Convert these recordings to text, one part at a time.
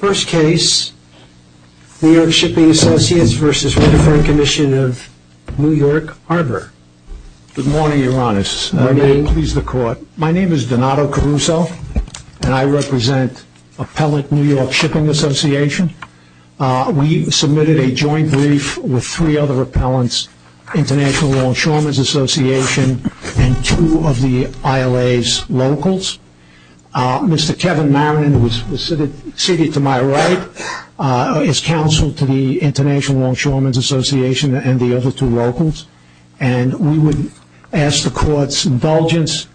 Harbor. My name is Donato Caruso and I represent Appellant New York Shipping Association. We submitted a joint brief with three other appellants, International Law Insurement Association and two of the ILA's locals. Mr. Kevin Maronin, who is seated to my right, is counsel to the International Law Insurement Association and the other two locals and we would ask the court's indulgence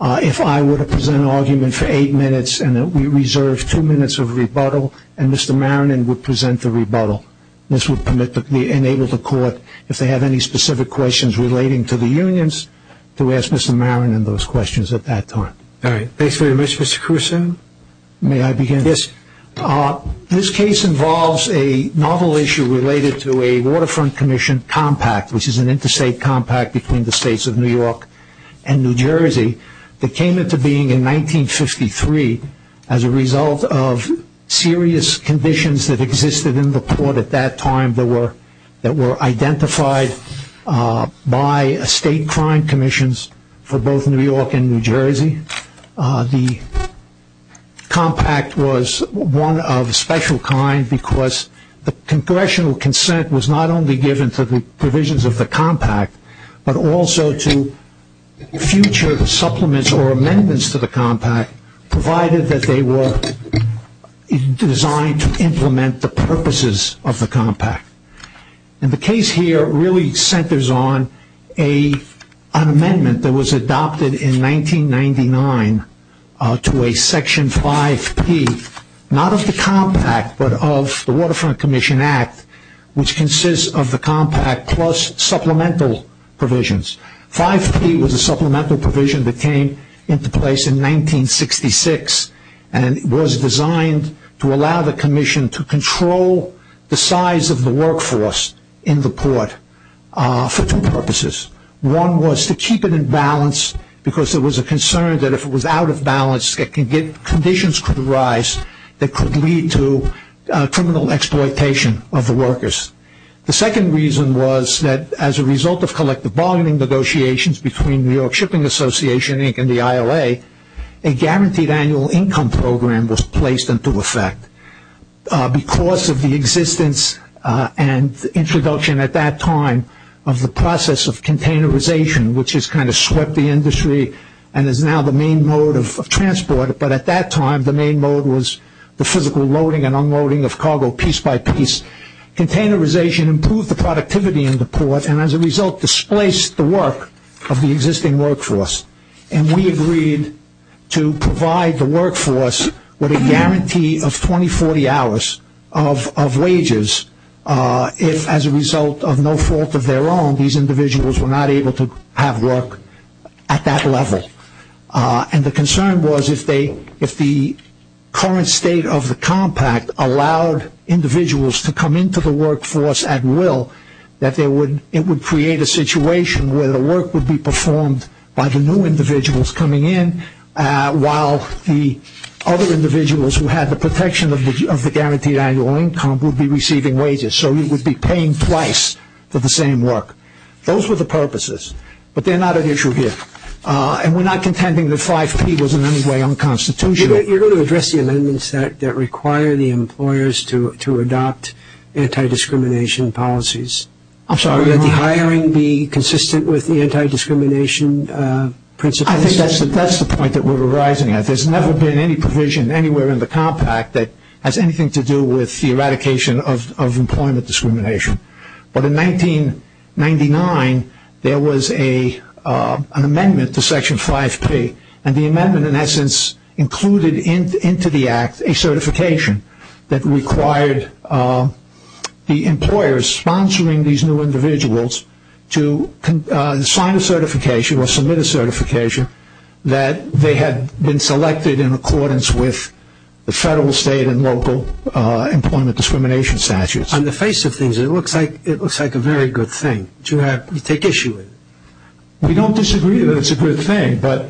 if I were to present an argument for eight minutes and that we reserve two minutes of rebuttal and Mr. Maronin would present the rebuttal. This would enable the court, if they have any specific questions relating to the unions, to ask Mr. Maronin those questions at that time. All right, thanks very much Mr. Caruso. May I begin? Yes. This case involves a novel issue related to a Waterfront Commission compact, which is an interstate compact between the states of New York and New Jersey, that came into being in 1953 as a result of serious conditions that existed in the port at that time that were identified by state crime commissions for both New York and New Jersey. The compact was one of a special kind because the congressional consent was not only given to the provisions of the compact, but also to future supplements or implement the purposes of the compact. And the case here really centers on an amendment that was adopted in 1999 to a section 5P, not of the compact but of the Waterfront Commission Act, which consists of the compact plus supplemental provisions. 5P was a supplemental provision that to control the size of the workforce in the port for two purposes. One was to keep it in balance because there was a concern that if it was out of balance that conditions could arise that could lead to criminal exploitation of the workers. The second reason was that as a result of collective bargaining negotiations between New York Shipping Association Inc. and the ILA, a guaranteed annual income program was placed into effect because of the existence and introduction at that time of the process of containerization, which has kind of swept the industry and is now the main mode of transport, but at that time the main mode was the physical loading and unloading of cargo piece by piece. Containerization improved the productivity in displaced the work of the existing workforce and we agreed to provide the workforce with a guarantee of 20-40 hours of wages if as a result of no fault of their own these individuals were not able to have work at that level. And the concern was if the current state of the compact allowed individuals to come into the workforce at will that it would create a situation where the work would be performed by the new individuals coming in while the other individuals who had the protection of the guaranteed annual income would be receiving wages, so you would be paying twice for the same work. Those were the purposes, but they're not an issue here and we're not contending that 5P was in any way unconstitutional. You're going to address the amendments that require the to adopt anti-discrimination policies. I'm sorry let the hiring be consistent with the anti-discrimination principles. I think that's the point that we're arising at. There's never been any provision anywhere in the compact that has anything to do with the eradication of employment discrimination, but in 1999 there was a an amendment to section 5P and the amendment in the act a certification that required the employers sponsoring these new individuals to sign a certification or submit a certification that they had been selected in accordance with the federal state and local employment discrimination statutes. On the face of things it looks like it looks like a very good thing to have you take issue with it. We don't disagree that it's a good thing but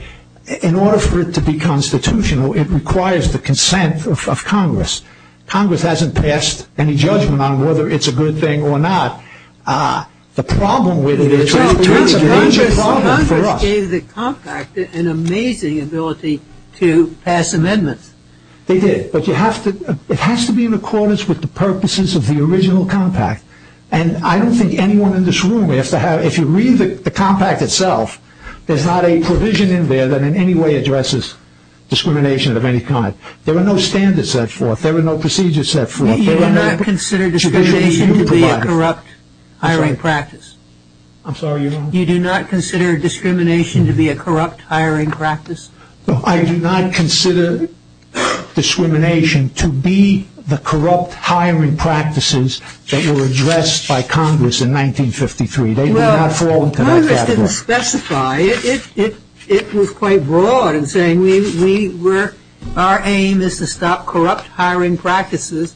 in order for it to be constitutional it requires the consent of congress. Congress hasn't passed any judgment on whether it's a good thing or not. The problem with it is it's a major problem for us. Congress gave the compact an amazing ability to pass amendments. They did, but you have to it has to be in accordance with the purposes of the original compact and I don't think anyone in this room has to have if you read the compact itself there's not a provision in there that in any way addresses discrimination of any kind. There are no standards set forth. There are no procedures set forth. You do not consider discrimination to be a corrupt hiring practice. I'm sorry you're on. You do not consider discrimination to be a corrupt hiring practice. I do not consider discrimination to be the corrupt hiring practice. It was quite broad in saying our aim is to stop corrupt hiring practices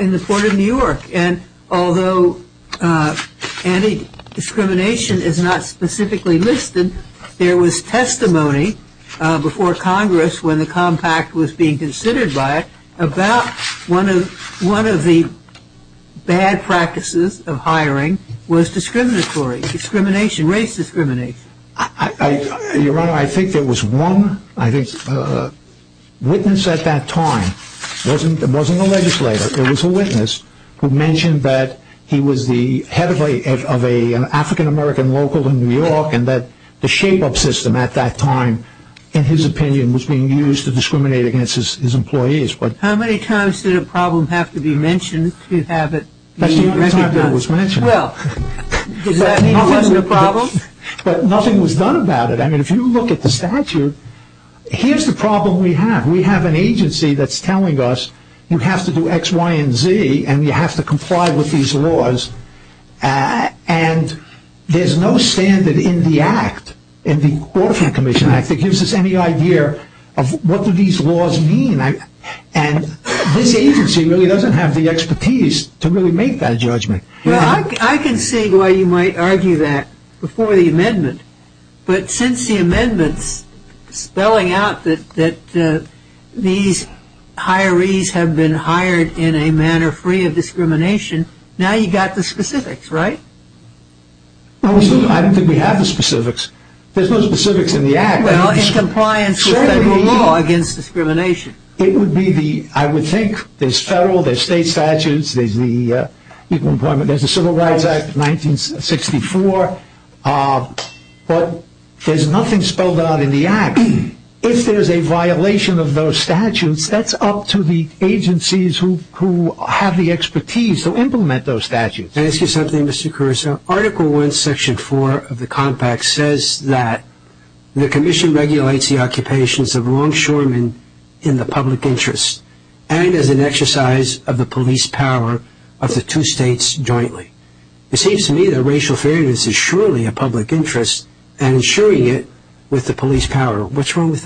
in the port of New York and although anti-discrimination is not specifically listed there was testimony before congress when the compact was being considered by it about one of one of the bad practices of hiring was discriminatory discrimination race discrimination. Your honor I think there was one I think uh witness at that time wasn't it wasn't a legislator it was a witness who mentioned that he was the head of a of a african-american local in New York and that the shape-up system at that time in his opinion was being used to discriminate against his employees but how many times did a problem have to be mentioned to have it that's the only time that was mentioned well does that mean it wasn't a problem but nothing was done about it I mean if you look at the statute here's the problem we have we have an agency that's telling us you have to do x y and z and you have to comply with these laws uh and there's no standard in the act in the orphan commission act that gives us any idea of what do these laws mean and this agency really doesn't have the expertise to really make that judgment well I can see why you might argue that before the amendment but since the amendments spelling out that that these hirees have been hired in a manner free of discrimination now you got the specifics right I don't think we have the specifics there's no specifics in the act against discrimination it would be the I would think there's federal there's state statutes there's the uh equal employment there's a civil rights act 1964 uh but there's nothing spelled out in the act if there's a violation of those statutes that's up to the agencies who who have the expertise to implement those statutes ask you something mr caruso article 1 section 4 of the compact says that the commission regulates the occupations of longshoremen in the public interest and as an exercise of the police power of the two states jointly it seems to me that racial fairness is surely a public interest and ensuring it with the police power what's wrong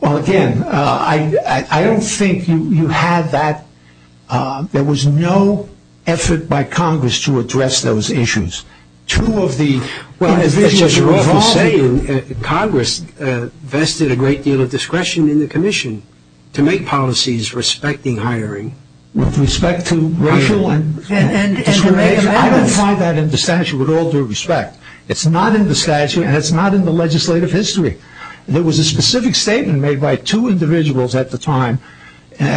well again uh I I don't think you you had that uh there was no effort by congress to address those issues two of the well as you say congress uh vested a great deal of discretion in the commission to make policies respecting hiring with respect to racial and discrimination I don't find that in the statute with all due respect it's not in the statute and it's not in the legislative history there was a specific statement made by two individuals at the time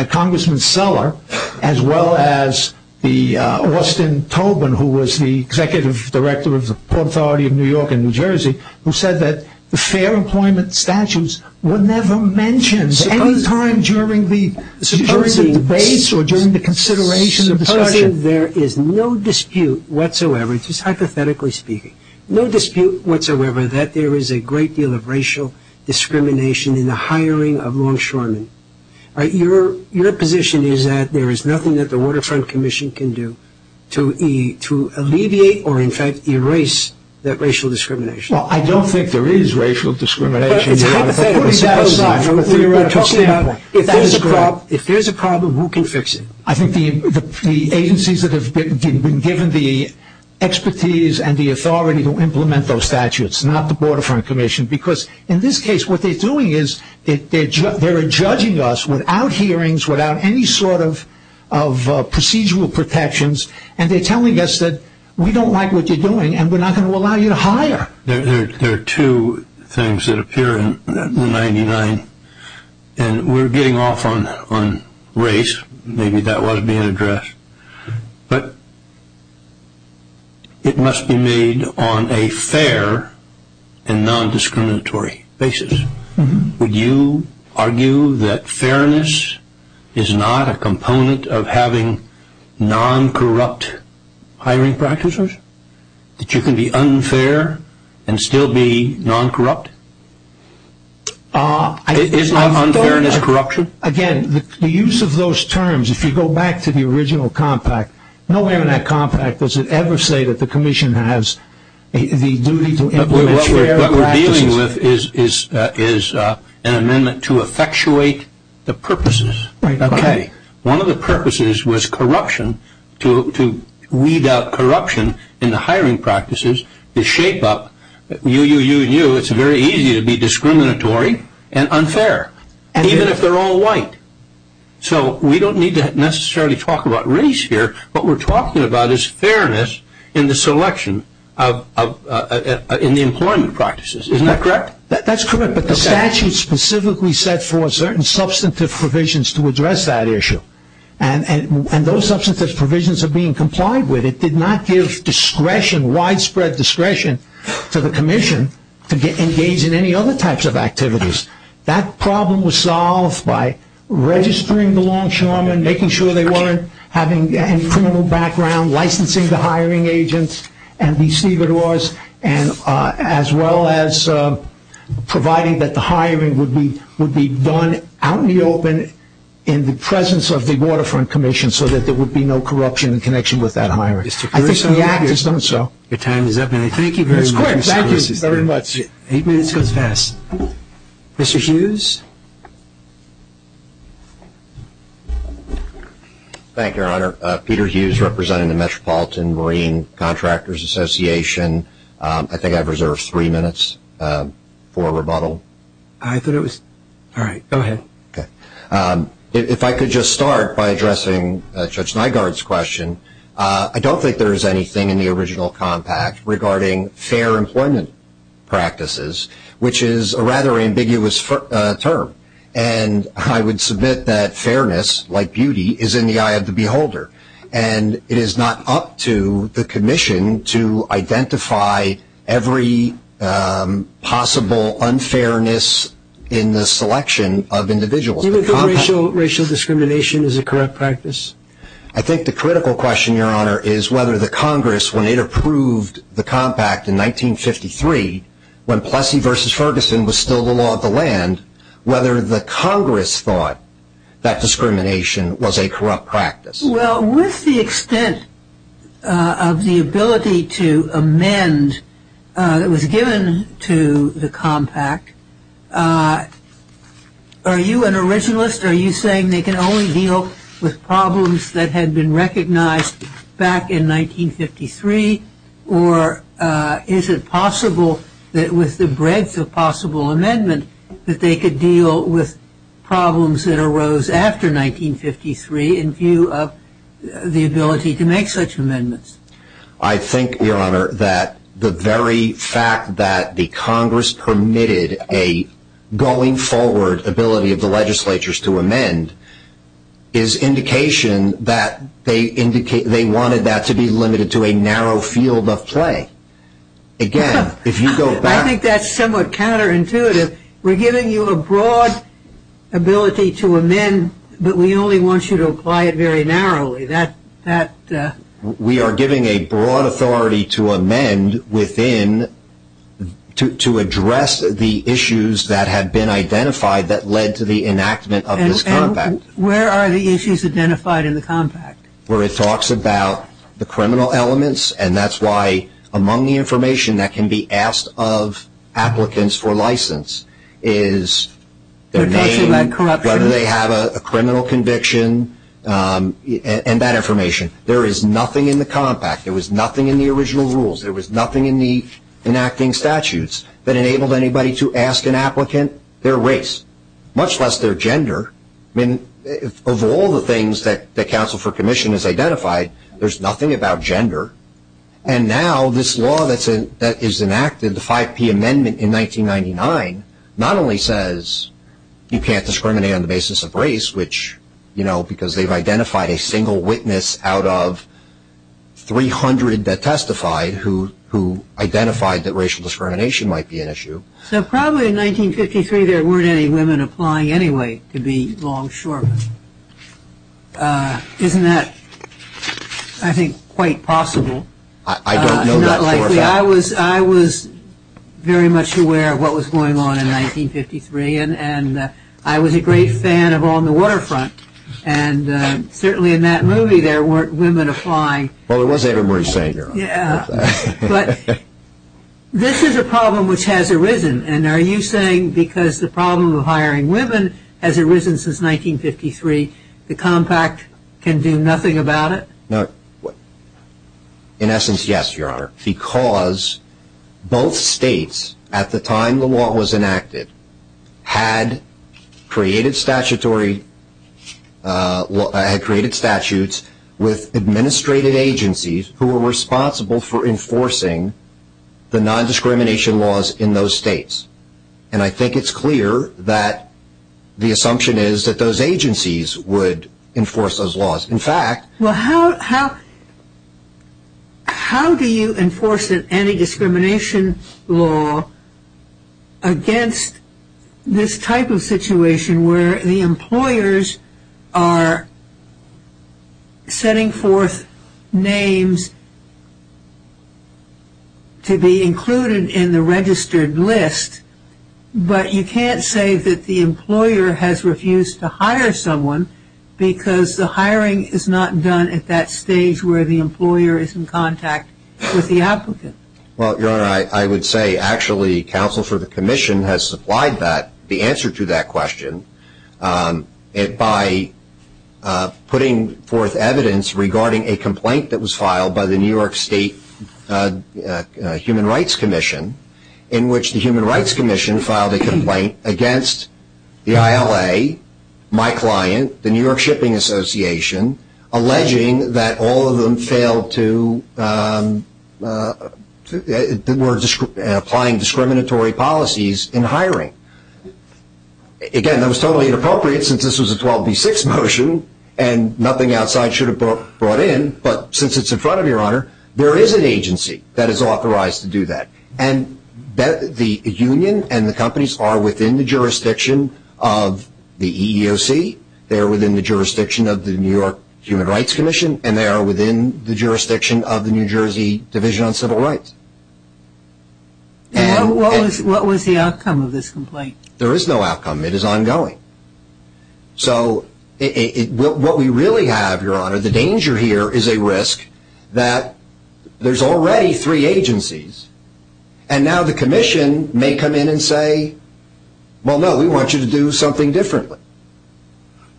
congressman seller as well as the uh austin tobin who was the executive director of the port authority of new york and new jersey who said that the fair employment statutes were never mentioned any time during the debates or during the consideration there is no dispute whatsoever just hypothetically speaking no dispute whatsoever that there is a great deal of racial discrimination in the hiring of longshoremen all right your your position is that there is nothing that the waterfront commission can do to e to alleviate or in fact erase that racial discrimination well I don't think there is racial discrimination if there's a problem if there's a problem who can fix it I think the agencies that have been given the expertise and the authority to implement those statutes not the border front commission because in this case what they're doing is they're judging us without hearings without any sort of of procedural protections and they're telling us that we don't like what you're doing and we're not going to allow you to hire there are two things that but it must be made on a fair and non-discriminatory basis would you argue that fairness is not a component of having non-corrupt hiring practices that you can be unfair and still be non-corrupt uh it is not unfairness corruption again the use of those terms if you go back to the original compact nowhere in that compact does it ever say that the commission has the duty to implement what we're dealing with is is uh is uh an amendment to effectuate the purposes right okay one of the purposes was corruption to to weed out corruption in the hiring practices to shape up you you you and you it's very easy to be discriminatory and unfair even if they're all white so we don't need to necessarily talk about race here what we're talking about is fairness in the selection of uh in the employment practices isn't that correct that's correct but the statute specifically said for certain substantive provisions to address that issue and and those substantive provisions are being complied with it did not give discretion widespread discretion to the commission to get engaged in any other types of activities that problem was solved by registering the longshoremen making sure they weren't having any criminal background licensing the hiring agents and the stevedores and uh as well as uh providing that the hiring would be would be done out in the open in the presence of the waterfront commission so that there would be no corruption in connection with that hiring so your time is up thank you very much eight minutes goes fast mr hughes thank you your honor uh peter hughes representing the metropolitan marine contractors association um i think i've reserved three minutes for rebuttal i thought it was all right go ahead okay um if i could just start by addressing judge nygaard's question uh i don't think there is anything in the original compact regarding fair employment practices which is a rather ambiguous term and i would submit that fairness like beauty is in the eye of the beholder and it is not up to the commission to identify every possible unfairness in the selection of individuals even though racial racial practice i think the critical question your honor is whether the congress when it approved the compact in 1953 when plessy versus ferguson was still the law of the land whether the congress thought that discrimination was a corrupt practice well with the extent of the ability to amend uh that was given to the compact uh are you an originalist are you saying they can only deal with problems that had been recognized back in 1953 or uh is it possible that with the breadth of possible amendment that they could deal with problems that arose after 1953 in view of the ability to make such amendments i think your honor that the very fact that the congress permitted a going forward ability of the legislatures to amend is indication that they indicate they wanted that to be limited to a narrow field of play again if you go back i think that's somewhat counterintuitive we're giving you a broad ability to amend but we only want you to apply it very narrowly that that we are giving a broad authority to amend within to to address the issues that have been identified that led to the enactment of this compact where are the issues identified in the compact where it talks about the criminal elements and that's why among the information that can be asked of applicants for license is the name whether they have a criminal conviction um and that information there is nothing in the original rules there was nothing in the enacting statutes that enabled anybody to ask an applicant their race much less their gender i mean of all the things that the council for commission has identified there's nothing about gender and now this law that's in that is enacted the 5p amendment in 1999 not only says you can't discriminate on the basis of race which you know they've identified a single witness out of 300 that testified who who identified that racial discrimination might be an issue so probably in 1953 there weren't any women applying anyway to be longshoremen uh isn't that i think quite possible i don't know that likely i was i was very much aware of what was going on in 1953 and and i was a great fan of on the waterfront and certainly in that movie there weren't women applying well it was ava murray savior yeah but this is a problem which has arisen and are you saying because the problem of hiring women has arisen since 1953 the compact can do nothing about it no in essence yes your honor because both states at the time the law was enacted had created statutory uh had created statutes with administrative agencies who were responsible for enforcing the non-discrimination laws in those states and i think it's clear that the assumption is that those agencies would enforce those laws in fact well how how how do you enforce an anti-discrimination law against this type of situation where the employers are setting forth names to be included in the registered list but you can't say that the employer has refused to hire someone because the hiring is not done at that stage where the employer is in contact with the applicant well your honor i i would say actually counsel for the commission has supplied that the answer to that question and by putting forth evidence regarding a complaint that was filed by the new york state human rights commission in which the human rights commission filed a complaint against the ila my client the new york shipping association alleging that all of them failed to applying discriminatory policies in hiring again that was totally inappropriate since this was a 12b6 motion and nothing outside should have brought in but since it's in front of your honor there is an agency that is authorized to do that and that the union and the companies are within the jurisdiction of the eeoc they're within the jurisdiction of the new york human rights commission and they are within the jurisdiction of the new jersey division on civil rights and what was what was the outcome of this complaint there is no outcome it is ongoing so it what we really have your honor the danger here is a risk that there's already three agencies and now the commission may come in and say well no we want you to do something differently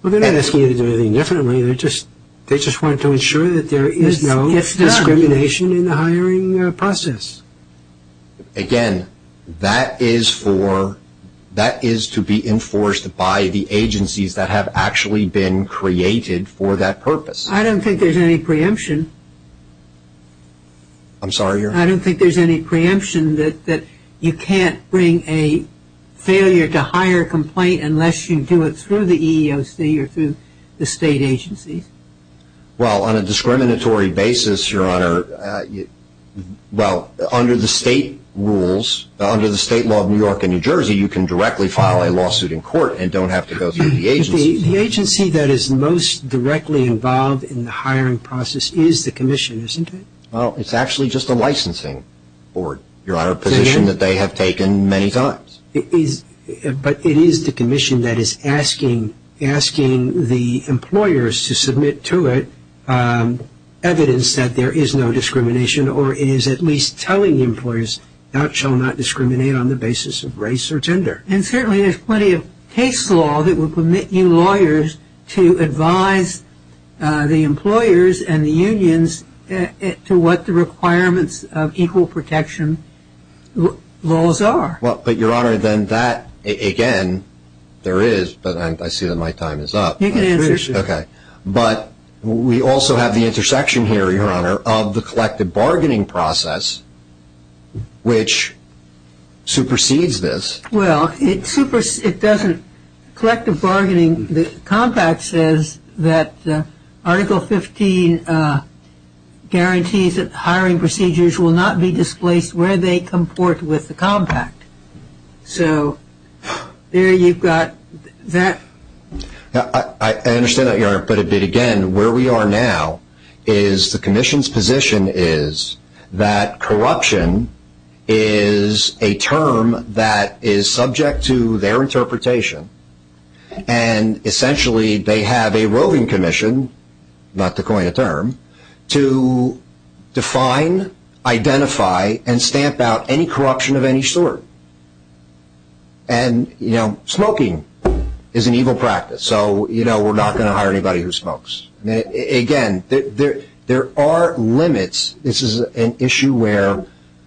we're going to ask you to do anything differently they just they just want to ensure that there is no discrimination in the hiring process again that is for that is to be enforced by the agencies that have actually been created for that purpose i don't think there's any preemption i'm sorry i don't think there's any preemption that that you can't bring a failure to hire a complaint unless you do it through the eeoc or through the state agencies well on a discriminatory basis your honor well under the state rules under the state law of new york and new jersey you can directly file a lawsuit in court and don't have to go through the agency the agency that is most directly involved in the hiring process is the commission isn't it well it's actually just a licensing board your honor position that they have taken many times it is but it is the commission that is asking asking the employers to submit to it evidence that there is no discrimination or it is at least telling employers that shall not discriminate on the basis of race or gender and certainly there's plenty of case law that will permit you lawyers to advise the employers and the unions to what the requirements of equal protection laws are well but your honor then that again there is but i see that my time is up you can answer okay but we also have the intersection here your honor of the collective bargaining process which supersedes this well it supers it doesn't collective bargaining the compact says that article 15 guarantees that hiring procedures will not be displaced where they comport with the compact so there you've got that now i understand that your but a bit again where we are now is the commission's position is that corruption is a term that is subject to their interpretation and essentially they have a roving commission not to coin a term to define identify and stamp out any corruption of any sort and you know smoking is an evil practice so you know we're not going to hire anybody who smokes again there there are limits this is an issue where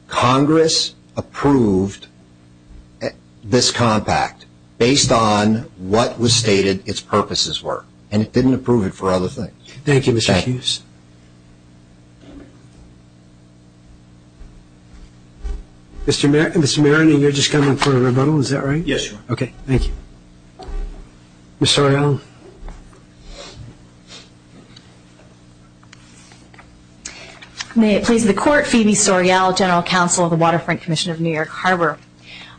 congress approved this compact based on what was stated its purposes were and it didn't approve it for other things thank you mr hughes thank you mr mr maroney you're just coming for a rebuttal is that right yes okay thank you miss sorrell may it please the court phoebe sorrell general counsel of the waterfront commission of new york harbor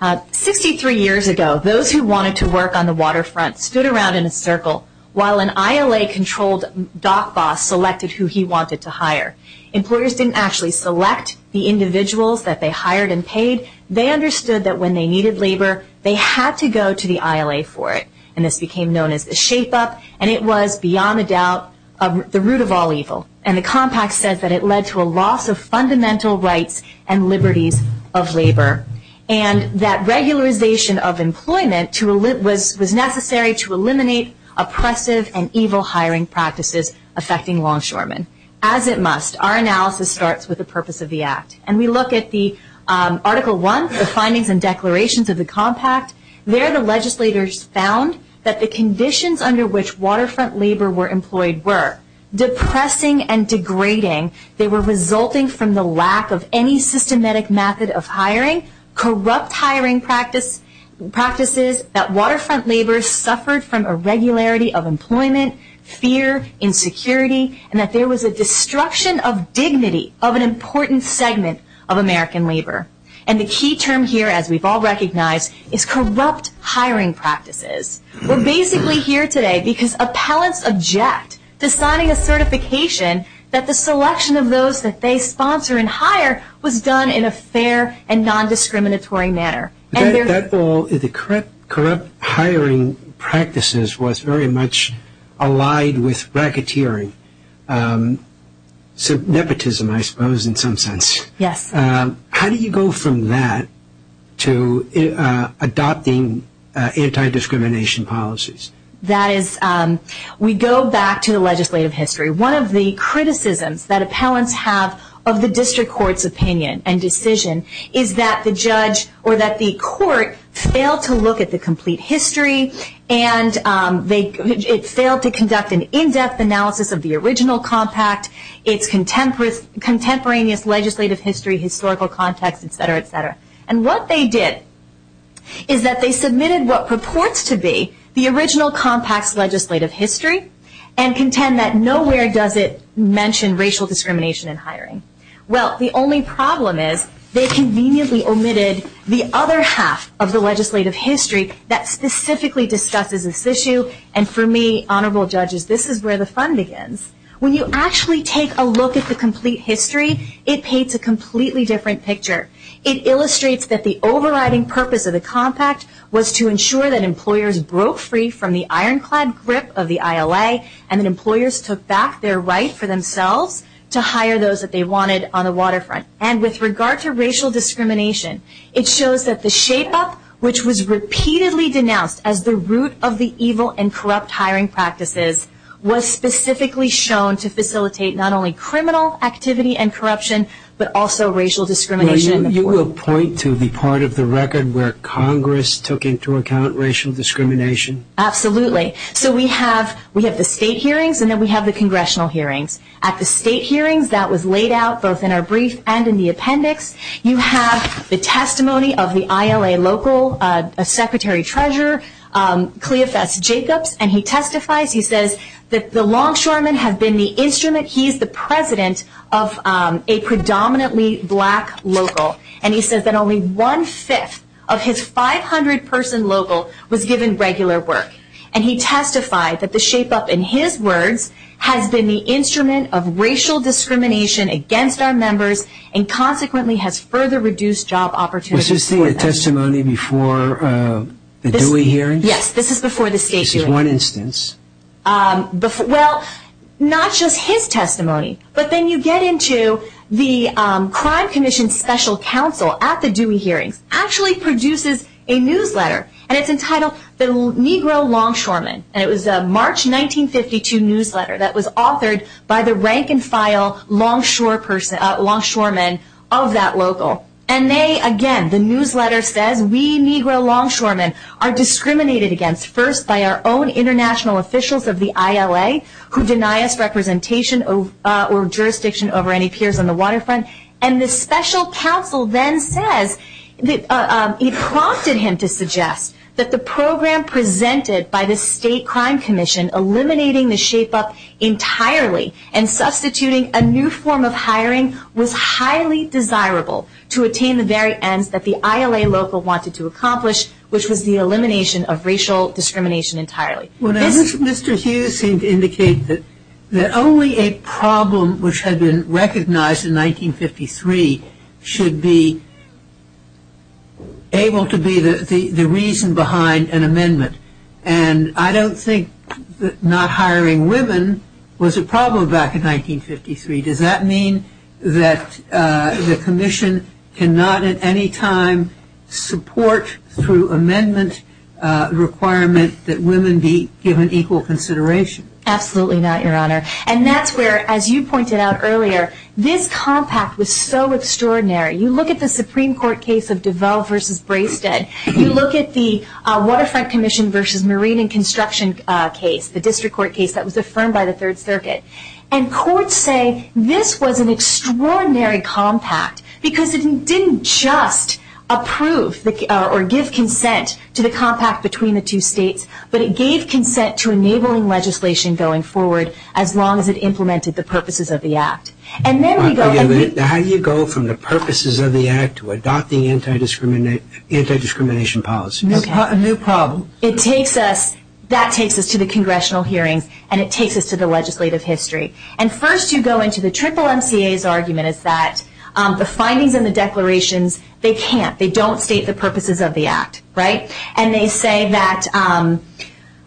uh 63 years ago those who wanted to work on the waterfront stood around in a circle while an ila controlled doc boss selected who he wanted to hire employers didn't actually select the individuals that they hired and paid they understood that when they needed labor they had to go to the ila for it and this became known as the shape up and it was beyond a doubt of the root of all evil and the compact says that it led to a loss of fundamental rights and liberties of labor and that regularization of employment to live was was necessary to eliminate oppressive and evil hiring practices affecting longshoremen as it must our analysis starts with the purpose of the act and we look at the um article one the findings and declarations of the compact there the legislators found that the conditions under which waterfront labor were employed were depressing and degrading they were resulting from the lack of any systematic method of hiring corrupt hiring practice practices that waterfront labor suffered from a regularity of employment fear insecurity and that there was a destruction of dignity of an important segment of american labor and the key term here as we've all recognized is corrupt hiring practices we're basically here today because appellants object to signing a certification that the selection of those that they sponsor and hire was done in a fair and non-discriminatory manner that all the correct corrupt hiring practices was very much allied with bracketeering um so nepotism i suppose in some sense yes um how do you go from to uh adopting uh anti-discrimination policies that is um we go back to the legislative history one of the criticisms that appellants have of the district court's opinion and decision is that the judge or that the court failed to look at the complete history and um they it failed to conduct an in-depth analysis of the original compact its contemporaneous contemporaneous legislative history historical context etc etc and what they did is that they submitted what purports to be the original compact's legislative history and contend that nowhere does it mention racial discrimination in hiring well the only problem is they conveniently omitted the other half of the legislative history that specifically discusses this issue and for me honorable judges this is where the fun begins when you actually take a look at the complete history it paints a completely different picture it illustrates that the overriding purpose of the compact was to ensure that employers broke free from the ironclad grip of the ila and employers took back their right for themselves to hire those that they wanted on the waterfront and with regard to racial discrimination it shows that the shape up which was repeatedly denounced as the root of the evil and corrupt hiring practices was specifically shown to facilitate not only criminal activity and corruption but also racial discrimination you will point to the part of the record where congress took into account racial discrimination absolutely so we have we have the state hearings and then we have the congressional hearings at the state hearings that was laid out both in our brief and in the appendix you have the testimony of the ila local uh secretary treasurer um cleopas jacobs and he testifies he says that the longshoreman has been the instrument he's the president of um a predominantly black local and he says that only one-fifth of his 500 person local was given regular work and he testified that the shape up in his words has been the instrument of racial discrimination against our members and consequently has further reduced job opportunities this is the testimony before uh the dewey hearing yes this is before the state is one instance um before well not just his testimony but then you get into the um crime commission special counsel at the dewey hearings actually produces a newsletter and it's entitled the negro longshoreman and it was a march 1952 newsletter that was authored by the rank-and-file longshore person uh longshoreman of that local and they again the newsletter says we negro longshoremen are discriminated against first by our own international officials of the ila who deny us representation of uh or jurisdiction over any peers on the waterfront and the special counsel then says that uh he prompted him to suggest that the program presented by the state crime commission eliminating the shape up entirely and substituting a new form of hiring was highly desirable to attain the very ends that the ila local wanted to accomplish which was the elimination of racial discrimination entirely when mr hughes seemed to indicate that that only a problem which had been recognized in 1953 should be able to be the the does that mean that uh the commission cannot at any time support through amendment uh requirement that women be given equal consideration absolutely not your honor and that's where as you pointed out earlier this compact was so extraordinary you look at the supreme court case of devel versus braisted you look at the uh waterfront commission versus marine and construction uh case the district court case that was affirmed by the third circuit and courts say this was an extraordinary compact because it didn't just approve the or give consent to the compact between the two states but it gave consent to enabling legislation going forward as long as it implemented the purposes of the act and then how do you go from the purposes of the act to adopt the anti-discriminate anti-discrimination policies a new problem it takes us that takes us to the congressional hearings and it takes us to the legislative history and first you go into the triple mca's argument is that um the findings and the declarations they can't they don't state the purposes of the act right and they say that um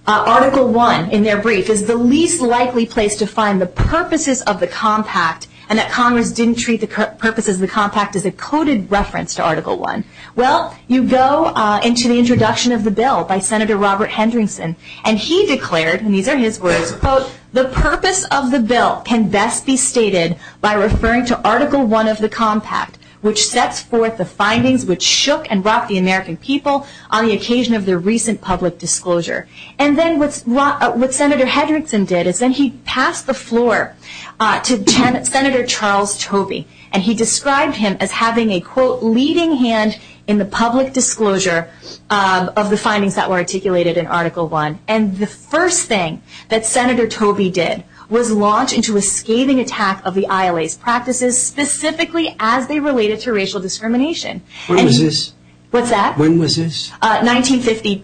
article one in their brief is the least likely place to find the purposes of the compact and that congress didn't treat the purposes of the compact as a coded reference to article one well you go uh into the introduction of the bill by senator robert hendrickson and he declared and these are his words quote the purpose of the bill can best be stated by referring to article one of the compact which sets forth the findings which shook and rocked the american people on the occasion of their recent public disclosure and then what's what what senator hendrickson did is then he passed the floor uh to senator charles toby and he leading hand in the public disclosure of the findings that were articulated in article one and the first thing that senator toby did was launch into a scathing attack of the ila's practices specifically as they related to racial discrimination what is this what's that when was this uh 1950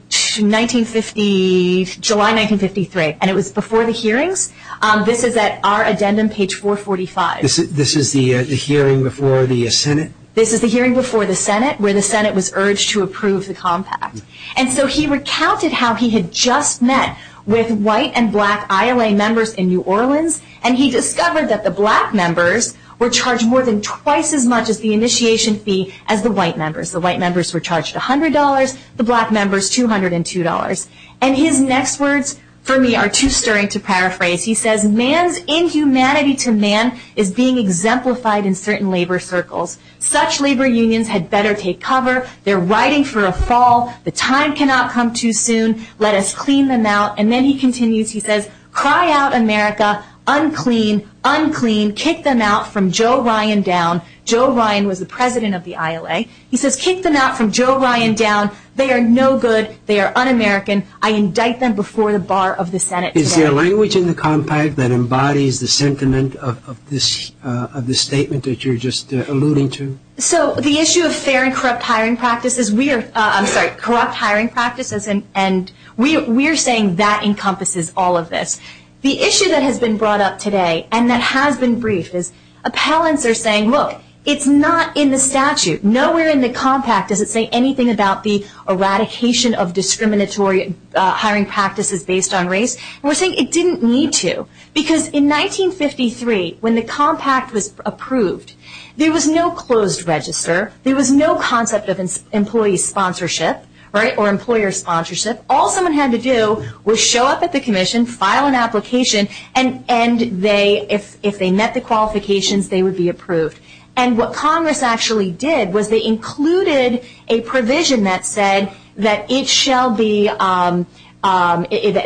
1950 july 1953 and it was before the hearings um this is at our addendum page 445 this is the hearing before the senate this is the hearing before the senate where the senate was urged to approve the compact and so he recounted how he had just met with white and black ila members in new orleans and he discovered that the black members were charged more than twice as much as the initiation fee as the white members the white members were charged a hundred dollars the black members two hundred and two dollars and his next words for me are too stirring to paraphrase he says man's inhumanity to man is being exemplified in certain labor circles such labor unions had better take cover they're writing for a fall the time cannot come too soon let us clean them out and then he continues he says cry out america unclean unclean kick them out from joe ryan down joe ryan was the president of the ila he says kick them out from joe ryan down they are no good they are un-american i indict them before the bar of the senate is there language in the compact that embodies the sentiment of this of the statement that you're just alluding to so the issue of fair and corrupt hiring practices we are i'm sorry corrupt hiring practices and and we we're saying that encompasses all of this the issue that has been brought up today and that has been briefed is appellants are saying look it's not in the statute nowhere in the compact does it say anything about the eradication of discriminatory hiring practices based on race we're saying it didn't need to because in 1953 when the compact was approved there was no closed register there was no concept of employee sponsorship right or employer sponsorship all someone had to do was show up at the commission file an application and and they if if they met the qualifications they would be approved and what congress actually did was they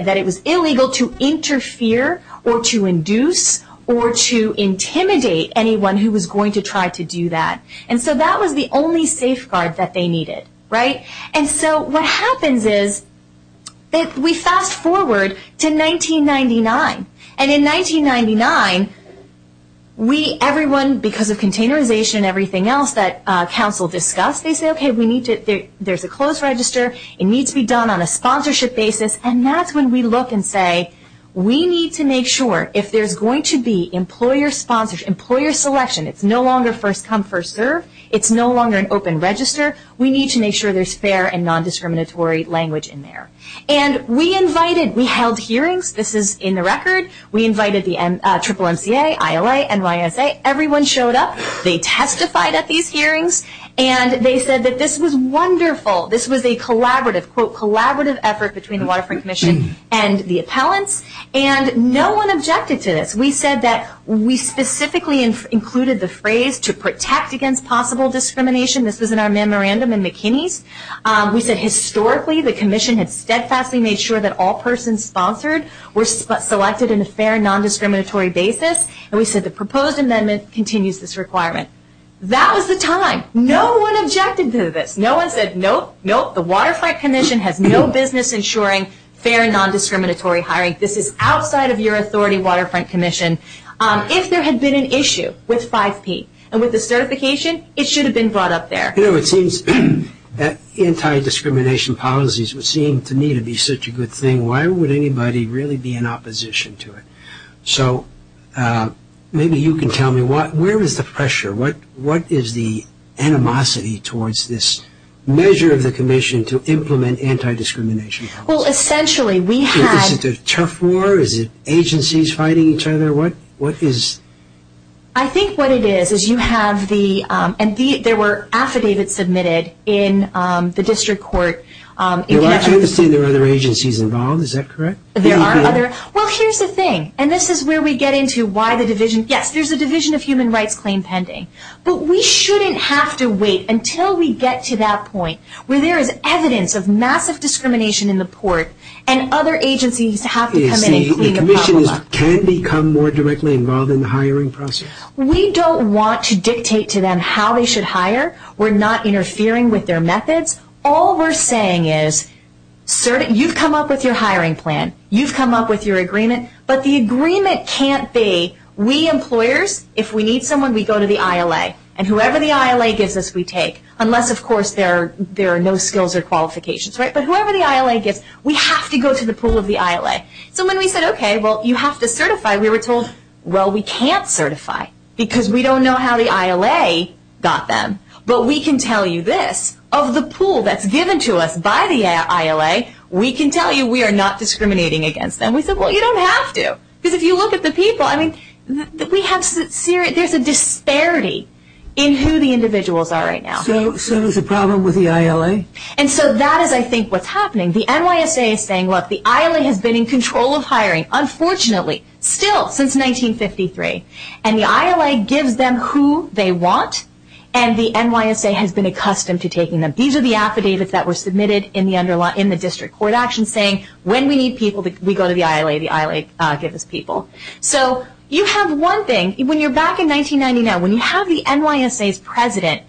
that it was illegal to interfere or to induce or to intimidate anyone who was going to try to do that and so that was the only safeguard that they needed right and so what happens is that we fast forward to 1999 and in 1999 we everyone because of containerization everything else that uh council discussed they say okay we need to there's a closed register it needs to be done on a sponsorship basis and that's when we look and say we need to make sure if there's going to be employer sponsorship employer selection it's no longer first come first serve it's no longer an open register we need to make sure there's fair and non-discriminatory language in there and we invited we held hearings this is in the record we invited the triple mca ila nysa everyone showed up they testified at these hearings and they said that this was wonderful this was a collaborative quote collaborative effort between the waterfront commission and the appellants and no one objected to this we said that we specifically included the phrase to protect against possible discrimination this was in our memorandum in mckinney's um we said historically the commission had steadfastly made sure that all persons sponsored were selected in a fair non-discriminatory basis and we said the proposed amendment continues this requirement that was the time no one objected to this no one said nope the waterfront commission has no business ensuring fair non-discriminatory hiring this is outside of your authority waterfront commission um if there had been an issue with 5p and with the certification it should have been brought up there you know it seems that anti-discrimination policies would seem to me to be such a good thing why would anybody really be in opposition to it so uh maybe you can tell me what where is the pressure what what is the animosity towards this measure of the commission to implement anti-discrimination well essentially we have this is a tough war is it agencies fighting each other what what is i think what it is is you have the um and the there were affidavits submitted in um the district court um there are other agencies involved is that correct there are other well here's the thing and this is where we get into why the division yes there's a division of human rights claim pending but we shouldn't have to wait until we get to that point where there is evidence of massive discrimination in the port and other agencies have to come in can become more directly involved in the hiring process we don't want to dictate to them how they should hire we're not interfering with their methods all we're saying is sir you've come up with your hiring plan you've come up with your agreement but the agreement can't be we employers if we need someone we go to the ila and whoever the unless of course there there are no skills or qualifications right but whoever the ila gets we have to go to the pool of the ila so when we said okay well you have to certify we were told well we can't certify because we don't know how the ila got them but we can tell you this of the pool that's given to us by the ila we can tell you we are not discriminating against them we said well you don't have to because if you look at the people i mean that we have serious there's a problem with the ila and so that is i think what's happening the nysa is saying look the ila has been in control of hiring unfortunately still since 1953 and the ila gives them who they want and the nysa has been accustomed to taking them these are the affidavits that were submitted in the underlying in the district court action saying when we need people that we go to the ila the ila uh give us people so you have one thing when you're back in 1999 when you have president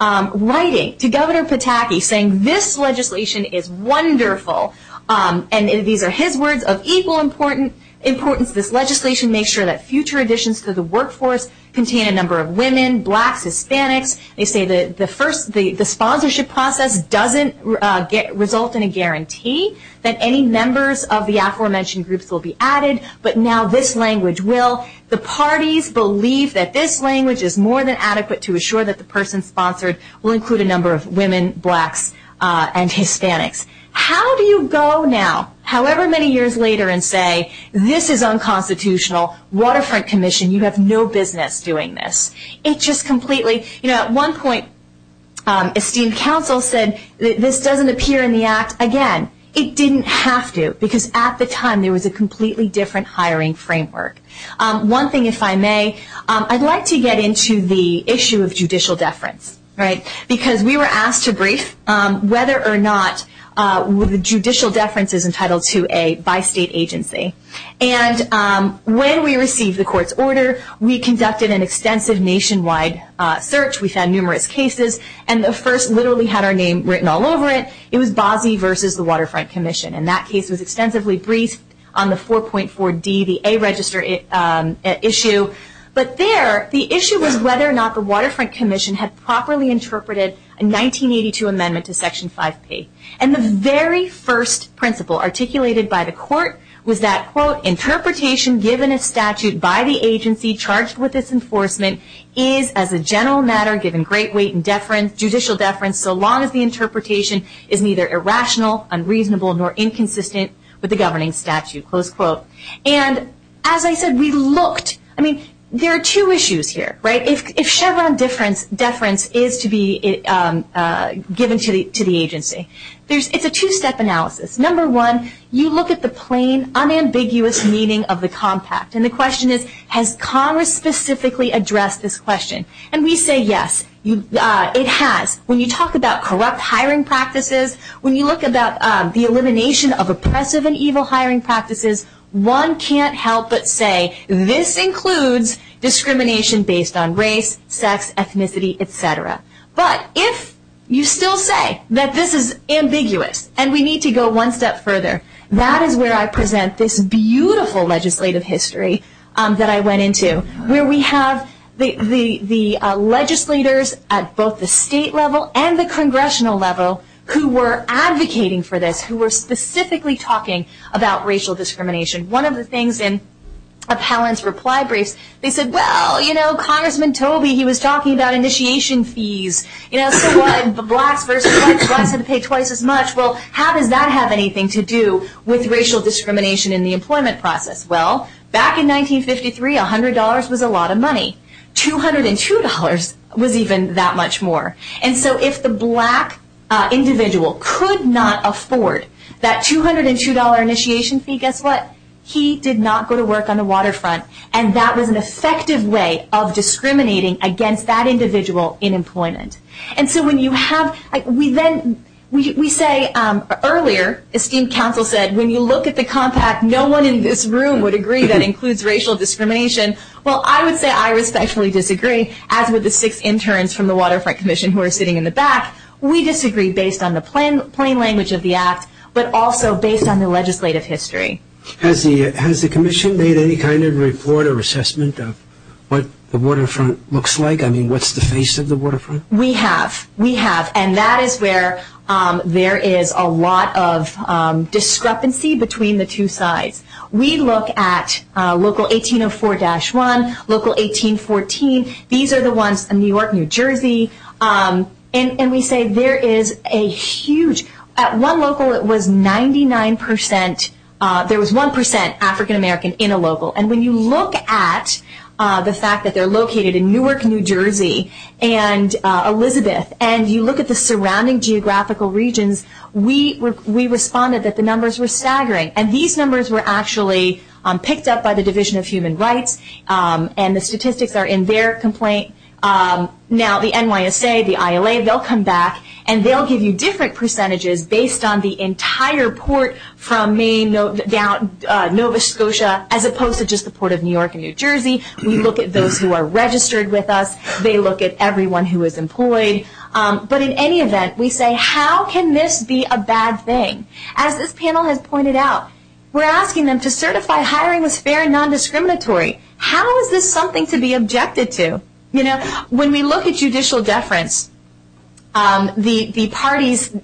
um writing to governor pataki saying this legislation is wonderful um and these are his words of equal important importance this legislation makes sure that future additions to the workforce contain a number of women blacks hispanics they say that the first the the sponsorship process doesn't uh get result in a guarantee that any members of the aforementioned groups will be added but now this language will the parties believe that this language is more than adequate to assure that the person sponsored will include a number of women blacks uh and hispanics how do you go now however many years later and say this is unconstitutional waterfront commission you have no business doing this it just completely you know at one point um esteemed council said this doesn't appear in the act again it didn't have to because at the time there was a different hiring framework um one thing if i may um i'd like to get into the issue of judicial deference right because we were asked to brief um whether or not uh the judicial deference is entitled to a bi-state agency and um when we received the court's order we conducted an extensive nationwide uh search we found numerous cases and the first literally had our name written all over it it was bazi versus the waterfront commission and that case was extensively briefed on the 4.4d the a register it um issue but there the issue was whether or not the waterfront commission had properly interpreted a 1982 amendment to section 5p and the very first principle articulated by the court was that quote interpretation given a statute by the agency charged with this enforcement is as a general matter given great weight and deference judicial deference so long as the interpretation is neither irrational unreasonable nor inconsistent with the governing statute close quote and as i said we looked i mean there are two issues here right if chevron difference deference is to be um uh given to the to the agency there's it's a two-step analysis number one you look at the plain unambiguous meaning of the compact and the question is has congress specifically addressed this question and we say yes you uh it has when you look at aggressive and evil hiring practices one can't help but say this includes discrimination based on race sex ethnicity etc but if you still say that this is ambiguous and we need to go one step further that is where i present this beautiful legislative history um that i went into where we have the the the uh legislators at both the state level and the congressional level who were advocating for this who were specifically talking about racial discrimination one of the things in appellant's reply briefs they said well you know congressman toby he was talking about initiation fees you know so what the blacks versus whites have to pay twice as much well how does that have anything to do with racial discrimination in the employment process well back in 1953 a hundred dollars was a lot of money 202 dollars was even that much more and so if the black uh individual could not afford that 202 dollar initiation fee guess what he did not go to work on the waterfront and that was an effective way of discriminating against that individual in employment and so when you have like we then we say um earlier esteemed council said when you look at the compact no one in this room would agree that includes racial discrimination well i would say i respectfully disagree as with the six interns from the waterfront commission who are sitting in the back we disagree based on the plain plain language of the act but also based on the legislative history has the has the commission made any kind of report or assessment of what the waterfront looks like i mean what's the face of the waterfront we have we have and that is where um there is a lot of um discrepancy between the two sides we look at uh local 1804-1 local 1814 these are the ones in there is a huge at one local it was 99 percent uh there was one percent african-american in a local and when you look at uh the fact that they're located in newark new jersey and uh elizabeth and you look at the surrounding geographical regions we were we responded that the numbers were staggering and these numbers were actually um picked up by the division of human rights um and the statistics are in their complaint um now the nysa the ila they'll come back and they'll give you different percentages based on the entire port from main note down uh nova scotia as opposed to just the port of new york and new jersey we look at those who are registered with us they look at everyone who is employed um but in any event we say how can this be a bad thing as this panel has pointed out we're asking them to certify hiring was fair and non-discriminatory how is this something to be objected to you know when we look at judicial deference um the the parties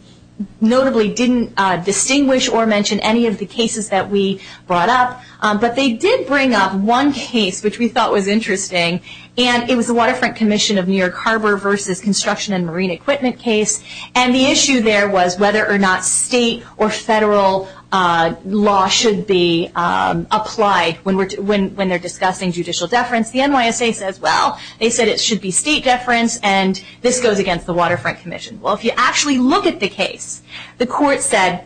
notably didn't uh distinguish or mention any of the cases that we brought up but they did bring up one case which we thought was interesting and it was a waterfront commission of new york harbor versus construction and marine equipment case and the issue there was whether or not state or federal uh law should be um applied when we're when when they're discussing judicial deference the nysa says well they said it should be state deference and this goes against the waterfront commission well if you actually look at the case the court said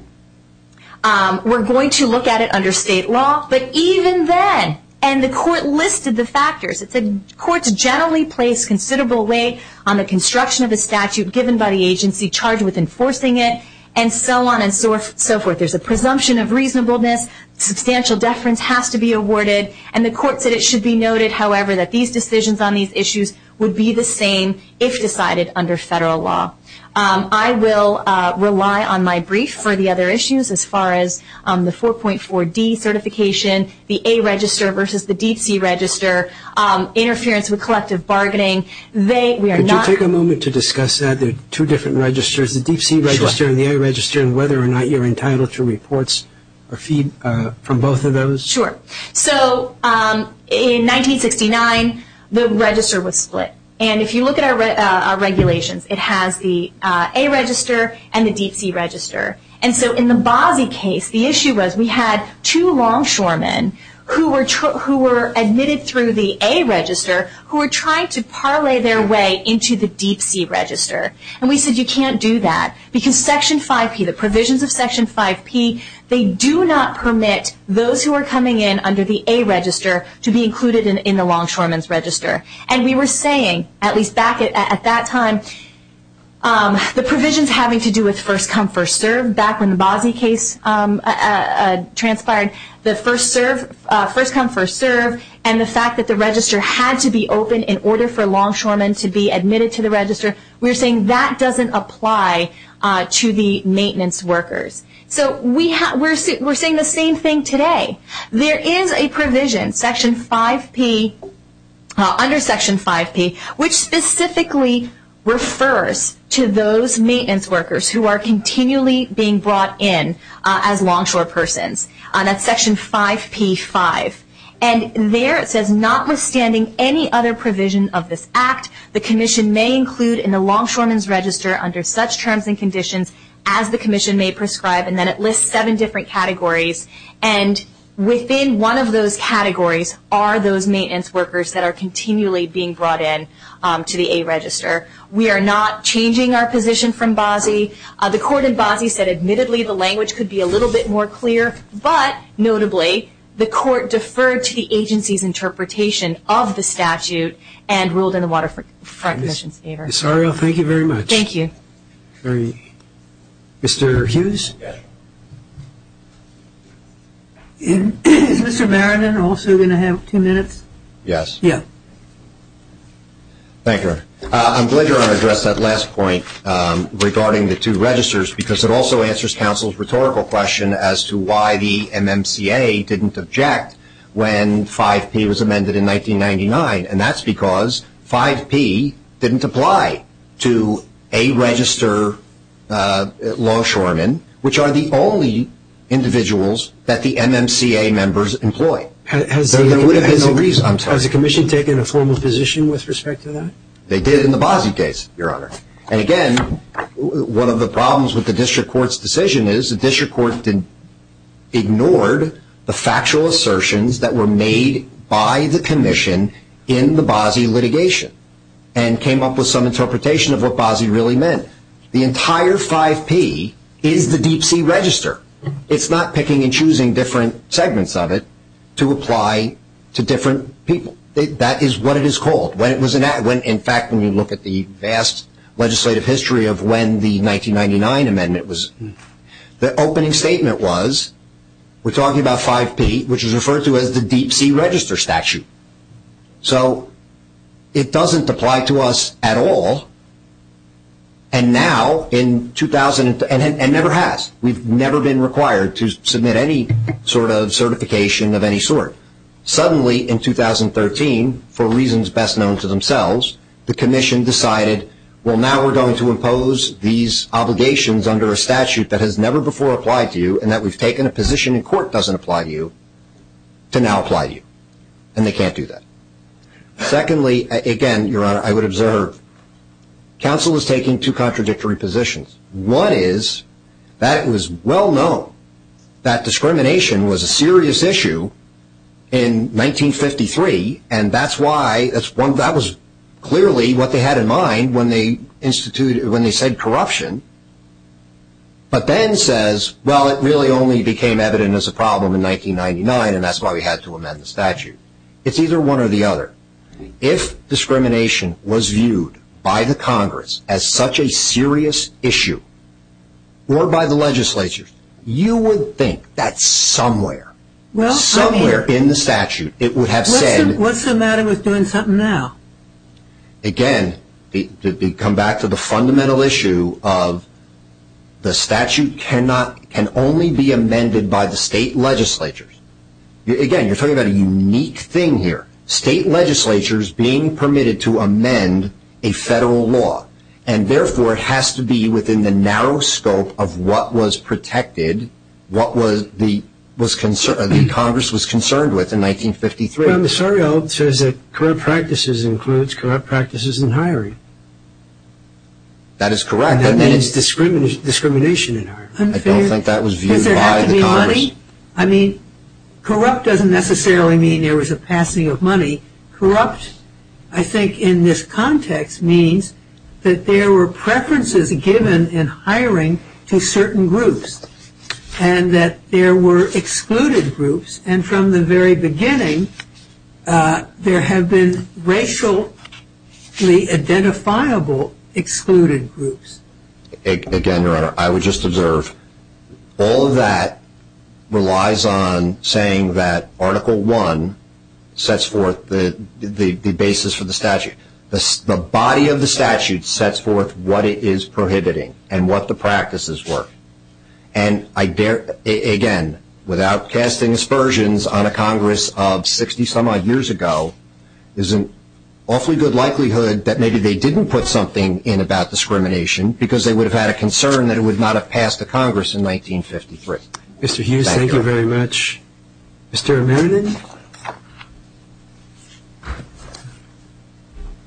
um we're going to look at it under state law but even then and the court listed the factors it said courts generally place considerable weight on the construction of a statute given by the agency charged with enforcing it and so on and so forth so forth there's a presumption of reasonableness substantial deference has to be awarded and the court said it should be noted however that these decisions on these issues would be the same if decided under federal law um i will uh rely on my brief for the other issues as far as on the 4.4d certification the a register versus the deep sea register um interference with collective bargaining they we are not take a moment to discuss that there are different registers the deep sea register and the a register and whether or not you're entitled to reports or feed uh from both of those sure so um in 1969 the register was split and if you look at our uh regulations it has the uh a register and the deep sea register and so in the bosie case the issue was we had two longshoremen who were who were admitted through the a register who were trying to parlay their way into the deep sea register and we said you can't do that because section 5p the provisions of section 5p they do not permit those who are coming in under the a register to be included in in the longshoremen's register and we were saying at least back at that time um the provisions having to do with first come first serve back when the bosie case um uh transpired the first serve uh first come first serve and the fact that the register had to be open in order for longshoremen to be admitted to the register we're saying that doesn't apply uh to the maintenance workers so we have we're saying the same thing today there is a provision section 5p under section 5p which specifically refers to those maintenance workers who are continually being brought in as longshore persons on that section 5p 5 and there notwithstanding any other provision of this act the commission may include in the longshoremen's register under such terms and conditions as the commission may prescribe and then it lists seven different categories and within one of those categories are those maintenance workers that are continually being brought in um to the a register we are not changing our position from bosie uh the court in bosie said admittedly the language could be a little bit more clear but notably the court deferred to the agency's interpretation of the statute and ruled in the water for recognition favor sorry well thank you very much thank you very mr hughes is mr meriden also going to have two minutes yes yeah thank you i'm glad you're on address that last point um regarding the two registers because it also answers council's rhetorical question as to why the mmca didn't object when 5p was amended in 1999 and that's because 5p didn't apply to a register uh longshoremen which are the only individuals that the mmca members employ has there would have been no reason i'm sorry has the commission taken a formal position with respect to that they did in the bosie case your honor and again one of the problems with district court's decision is the district court didn't ignored the factual assertions that were made by the commission in the bosie litigation and came up with some interpretation of what bosie really meant the entire 5p is the deep sea register it's not picking and choosing different segments of it to apply to different people that is what it is called when it was an ad when in vast legislative history of when the 1999 amendment was the opening statement was we're talking about 5p which is referred to as the deep sea register statute so it doesn't apply to us at all and now in 2000 and never has we've never been required to submit any sort of certification of any sort suddenly in 2013 for reasons best known to themselves the commission decided well now we're going to impose these obligations under a statute that has never before applied to you and that we've taken a position in court doesn't apply to you to now apply to you and they can't do that secondly again your honor i would observe council is taking two contradictory positions one is that it was well known that discrimination was serious issue in 1953 and that's why that's one that was clearly what they had in mind when they instituted when they said corruption but then says well it really only became evident as a problem in 1999 and that's why we had to amend the statute it's either one or the other if discrimination was viewed by the congress as such a serious issue or by the legislature you would think that somewhere well somewhere in the statute it would have said what's the matter with doing something now again to come back to the fundamental issue of the statute cannot can only be amended by the state legislatures again you're talking about a unique thing here state legislatures being permitted to amend a federal law and therefore it has to be within the narrow scope of what was protected what was the was concern the congress was concerned with in 1953 i'm sorry old says that correct practices includes corrupt practices in hiring that is correct that means discrimination discrimination in hiring i don't think that was viewed by the i mean corrupt doesn't necessarily mean there was a passing of money corrupt i think in this hiring to certain groups and that there were excluded groups and from the very beginning there have been racially identifiable excluded groups again your honor i would just observe all of that relies on saying that article one sets forth the the the basis for the statute the body of the statute sets forth what it is prohibiting and what the practices work and i dare again without casting aspersions on a congress of 60 some odd years ago is an awfully good likelihood that maybe they didn't put something in about discrimination because they would have had a concern that it would not have passed the congress in 1953 mr hughes thank you very much mr meredith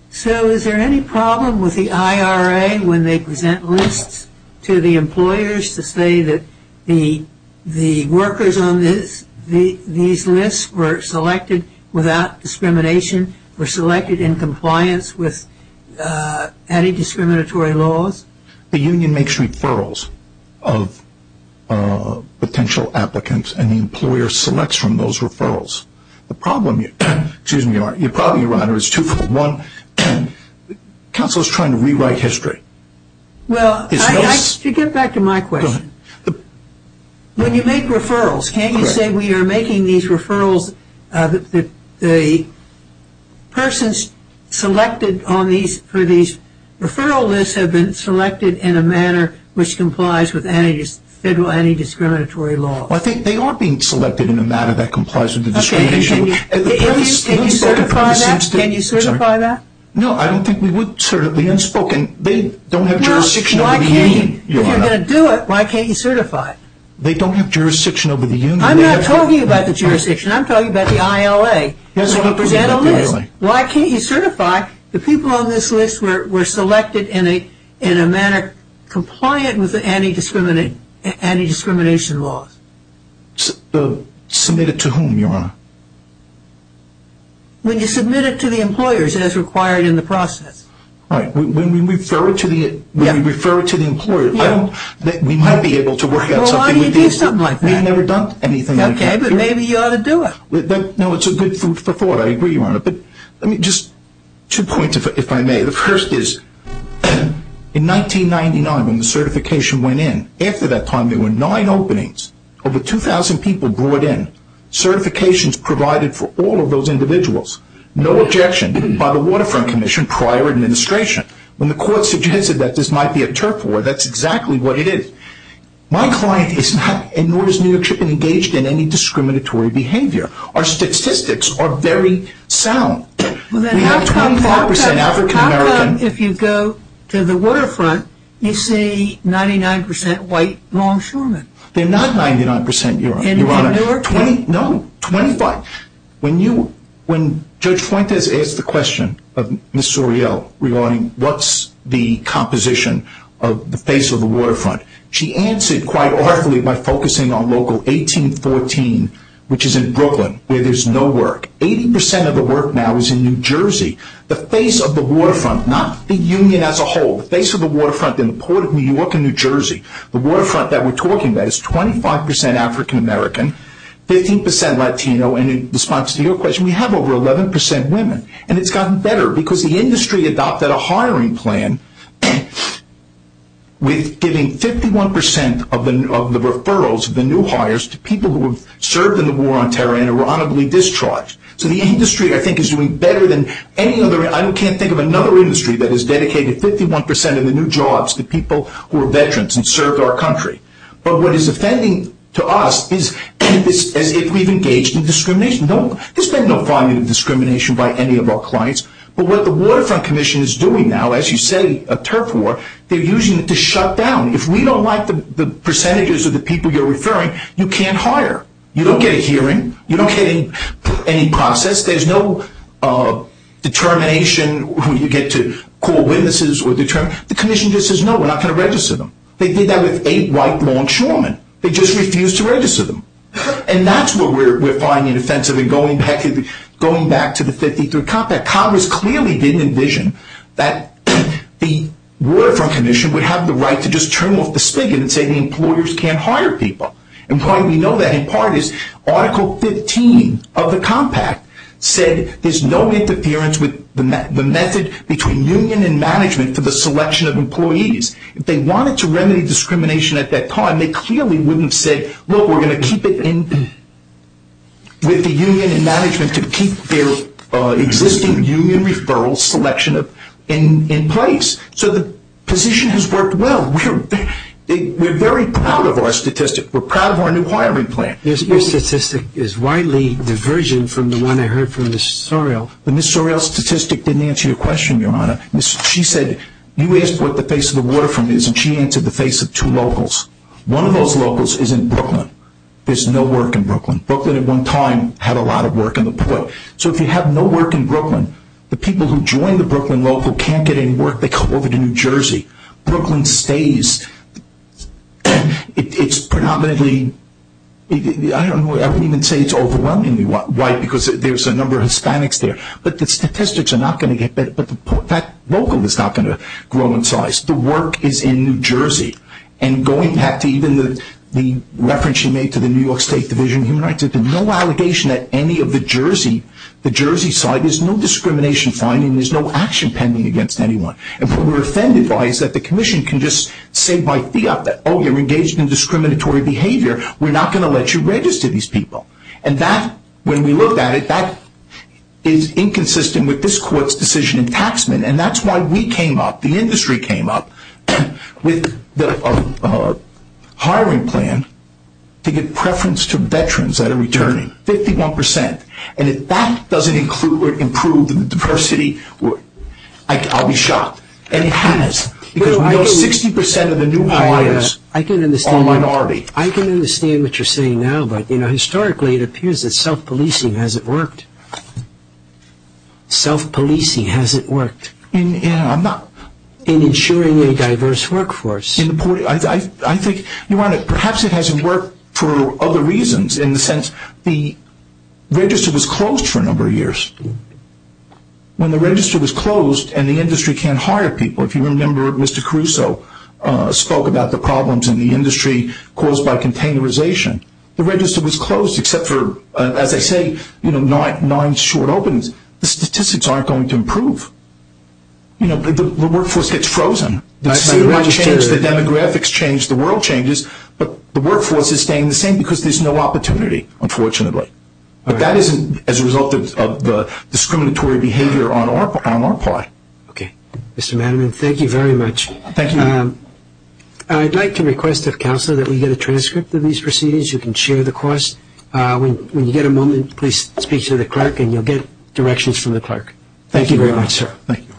so is there any problem with the ira when they present lists to the employers to say that the the workers on this the these lists were selected without discrimination were selected in compliance with anti-discriminatory laws the union makes referrals of potential applicants and the employer selects from those referrals the problem you excuse me your honor is twofold one council is trying to rewrite history well i get back to my question when you make referrals can you say we are making these referrals uh the the persons selected on these for these referral lists have been selected in a manner which complies with any federal anti-discriminatory law i think they are being selected in a matter that complies with the discrimination can you certify that no i don't think we would certainly unspoken they don't have jurisdiction if you're going to do it why can't you certify it they don't have jurisdiction over the union i'm not talking about the jurisdiction i'm talking about the ila why can't you certify the people on this list were selected in a in a manner compliant with the anti-discrimination anti-discrimination laws submitted to whom your honor when you submit it to the employers as required in the process right when we refer it to the when we refer it to the employer i don't that we might be able to work out something like we've never done anything okay but maybe you ought to do it no it's a good food for thought i agree your honor but let me just two points if i may the first is in 1999 when the certification went in after that time there were nine openings over 2 000 people brought in certifications provided for all of those individuals no objection by the waterfront commission prior administration when the court suggested that this might be a turf war that's exactly what it is my client is not and nor is new york should be engaged in any discriminatory behavior our statistics are very sound we have 25 percent african-american if you go to the waterfront you see 99 white longshoremen they're not 99 percent you're in your honor 20 no 25 when you when judge fuentes asked the question of miss oreo regarding what's the composition of the face of she answered quite artfully by focusing on local 1814 which is in brooklyn where there's no work 80 of the work now is in new jersey the face of the waterfront not the union as a whole the face of the waterfront in the port of new york and new jersey the waterfront that we're talking about is 25 african-american 15 latino and in response to your question we have over 11 percent women and it's gotten better because the industry adopted a hiring plan and with giving 51 percent of the of the referrals of the new hires to people who have served in the war on terror and were honorably discharged so the industry i think is doing better than any other i can't think of another industry that has dedicated 51 percent of the new jobs to people who are veterans and served our country but what is offending to us is as if we've engaged in discrimination don't there's been no volume of discrimination by any of our clients but what the waterfront commission is doing now as you say a turf war they're using it to shut down if we don't like the the percentages of the people you're referring you can't hire you don't get a hearing you don't get any process there's no uh determination when you get to call witnesses or determine the commission just says no we're not going to register them they did that with eight white longshoremen they just refused to register them and that's what we're we're finding offensive and going back to going back to the 53 compact congress clearly didn't envision that the waterfront commission would have the right to just turn off the spigot and say the employers can't hire people and why we know that in part is article 15 of the compact said there's no interference with the method between union and management for the selection of employees if they wanted to remedy discrimination at that time they clearly wouldn't say look we're going to keep it in with the union and management to keep their uh existing union referrals selection of in in place so the position has worked well we're we're very proud of our statistic we're proud of our new hiring plan your statistic is widely diversion from the one i heard from miss sorrel but miss sorrel statistic didn't answer your question your honor she said you asked what the face of the waterfront is and she answered the locals is in brooklyn there's no work in brooklyn brooklyn at one time had a lot of work in the point so if you have no work in brooklyn the people who join the brooklyn local can't get in work they come over to new jersey brooklyn stays it's predominantly i don't know i wouldn't even say it's overwhelmingly white because there's a number of hispanics there but the statistics are not going to get better but the local is not going to grow in size the work is in new jersey and going back to even the the reference she made to the new york state division of human rights there's no allegation that any of the jersey the jersey side there's no discrimination finding there's no action pending against anyone and what we're offended by is that the commission can just say by fiat that oh you're engaged in discriminatory behavior we're not going to let you register these people and that when we looked at it that is inconsistent with this court's and that's why we came up the industry came up with the hiring plan to get preference to veterans that are returning 51 and if that doesn't include or improve the diversity i'll be shocked and it has because we know 60 of the new hires are minority i can understand what you're saying now but you know historically it appears that self-policing hasn't worked self-policing hasn't worked in yeah i'm not in ensuring a diverse workforce in the port i i think you want to perhaps it hasn't worked for other reasons in the sense the register was closed for a number of years when the register was closed and the industry can't hire people if you remember mr caruso uh spoke about the problems in the industry caused by containerization the register was closed except for as i say you know nine nine short openings the statistics aren't going to improve you know the workforce gets frozen the demographics change the world changes but the workforce is staying the same because there's no opportunity unfortunately but that isn't as a result of the discriminatory behavior on our part on our part okay mr madam and thank you very much thank you um i'd like to request of counsel that we get a transcript of these proceedings you can share the course uh when you get a moment please speak to the clerk and you'll get directions from the clerk thank you very much sir thank you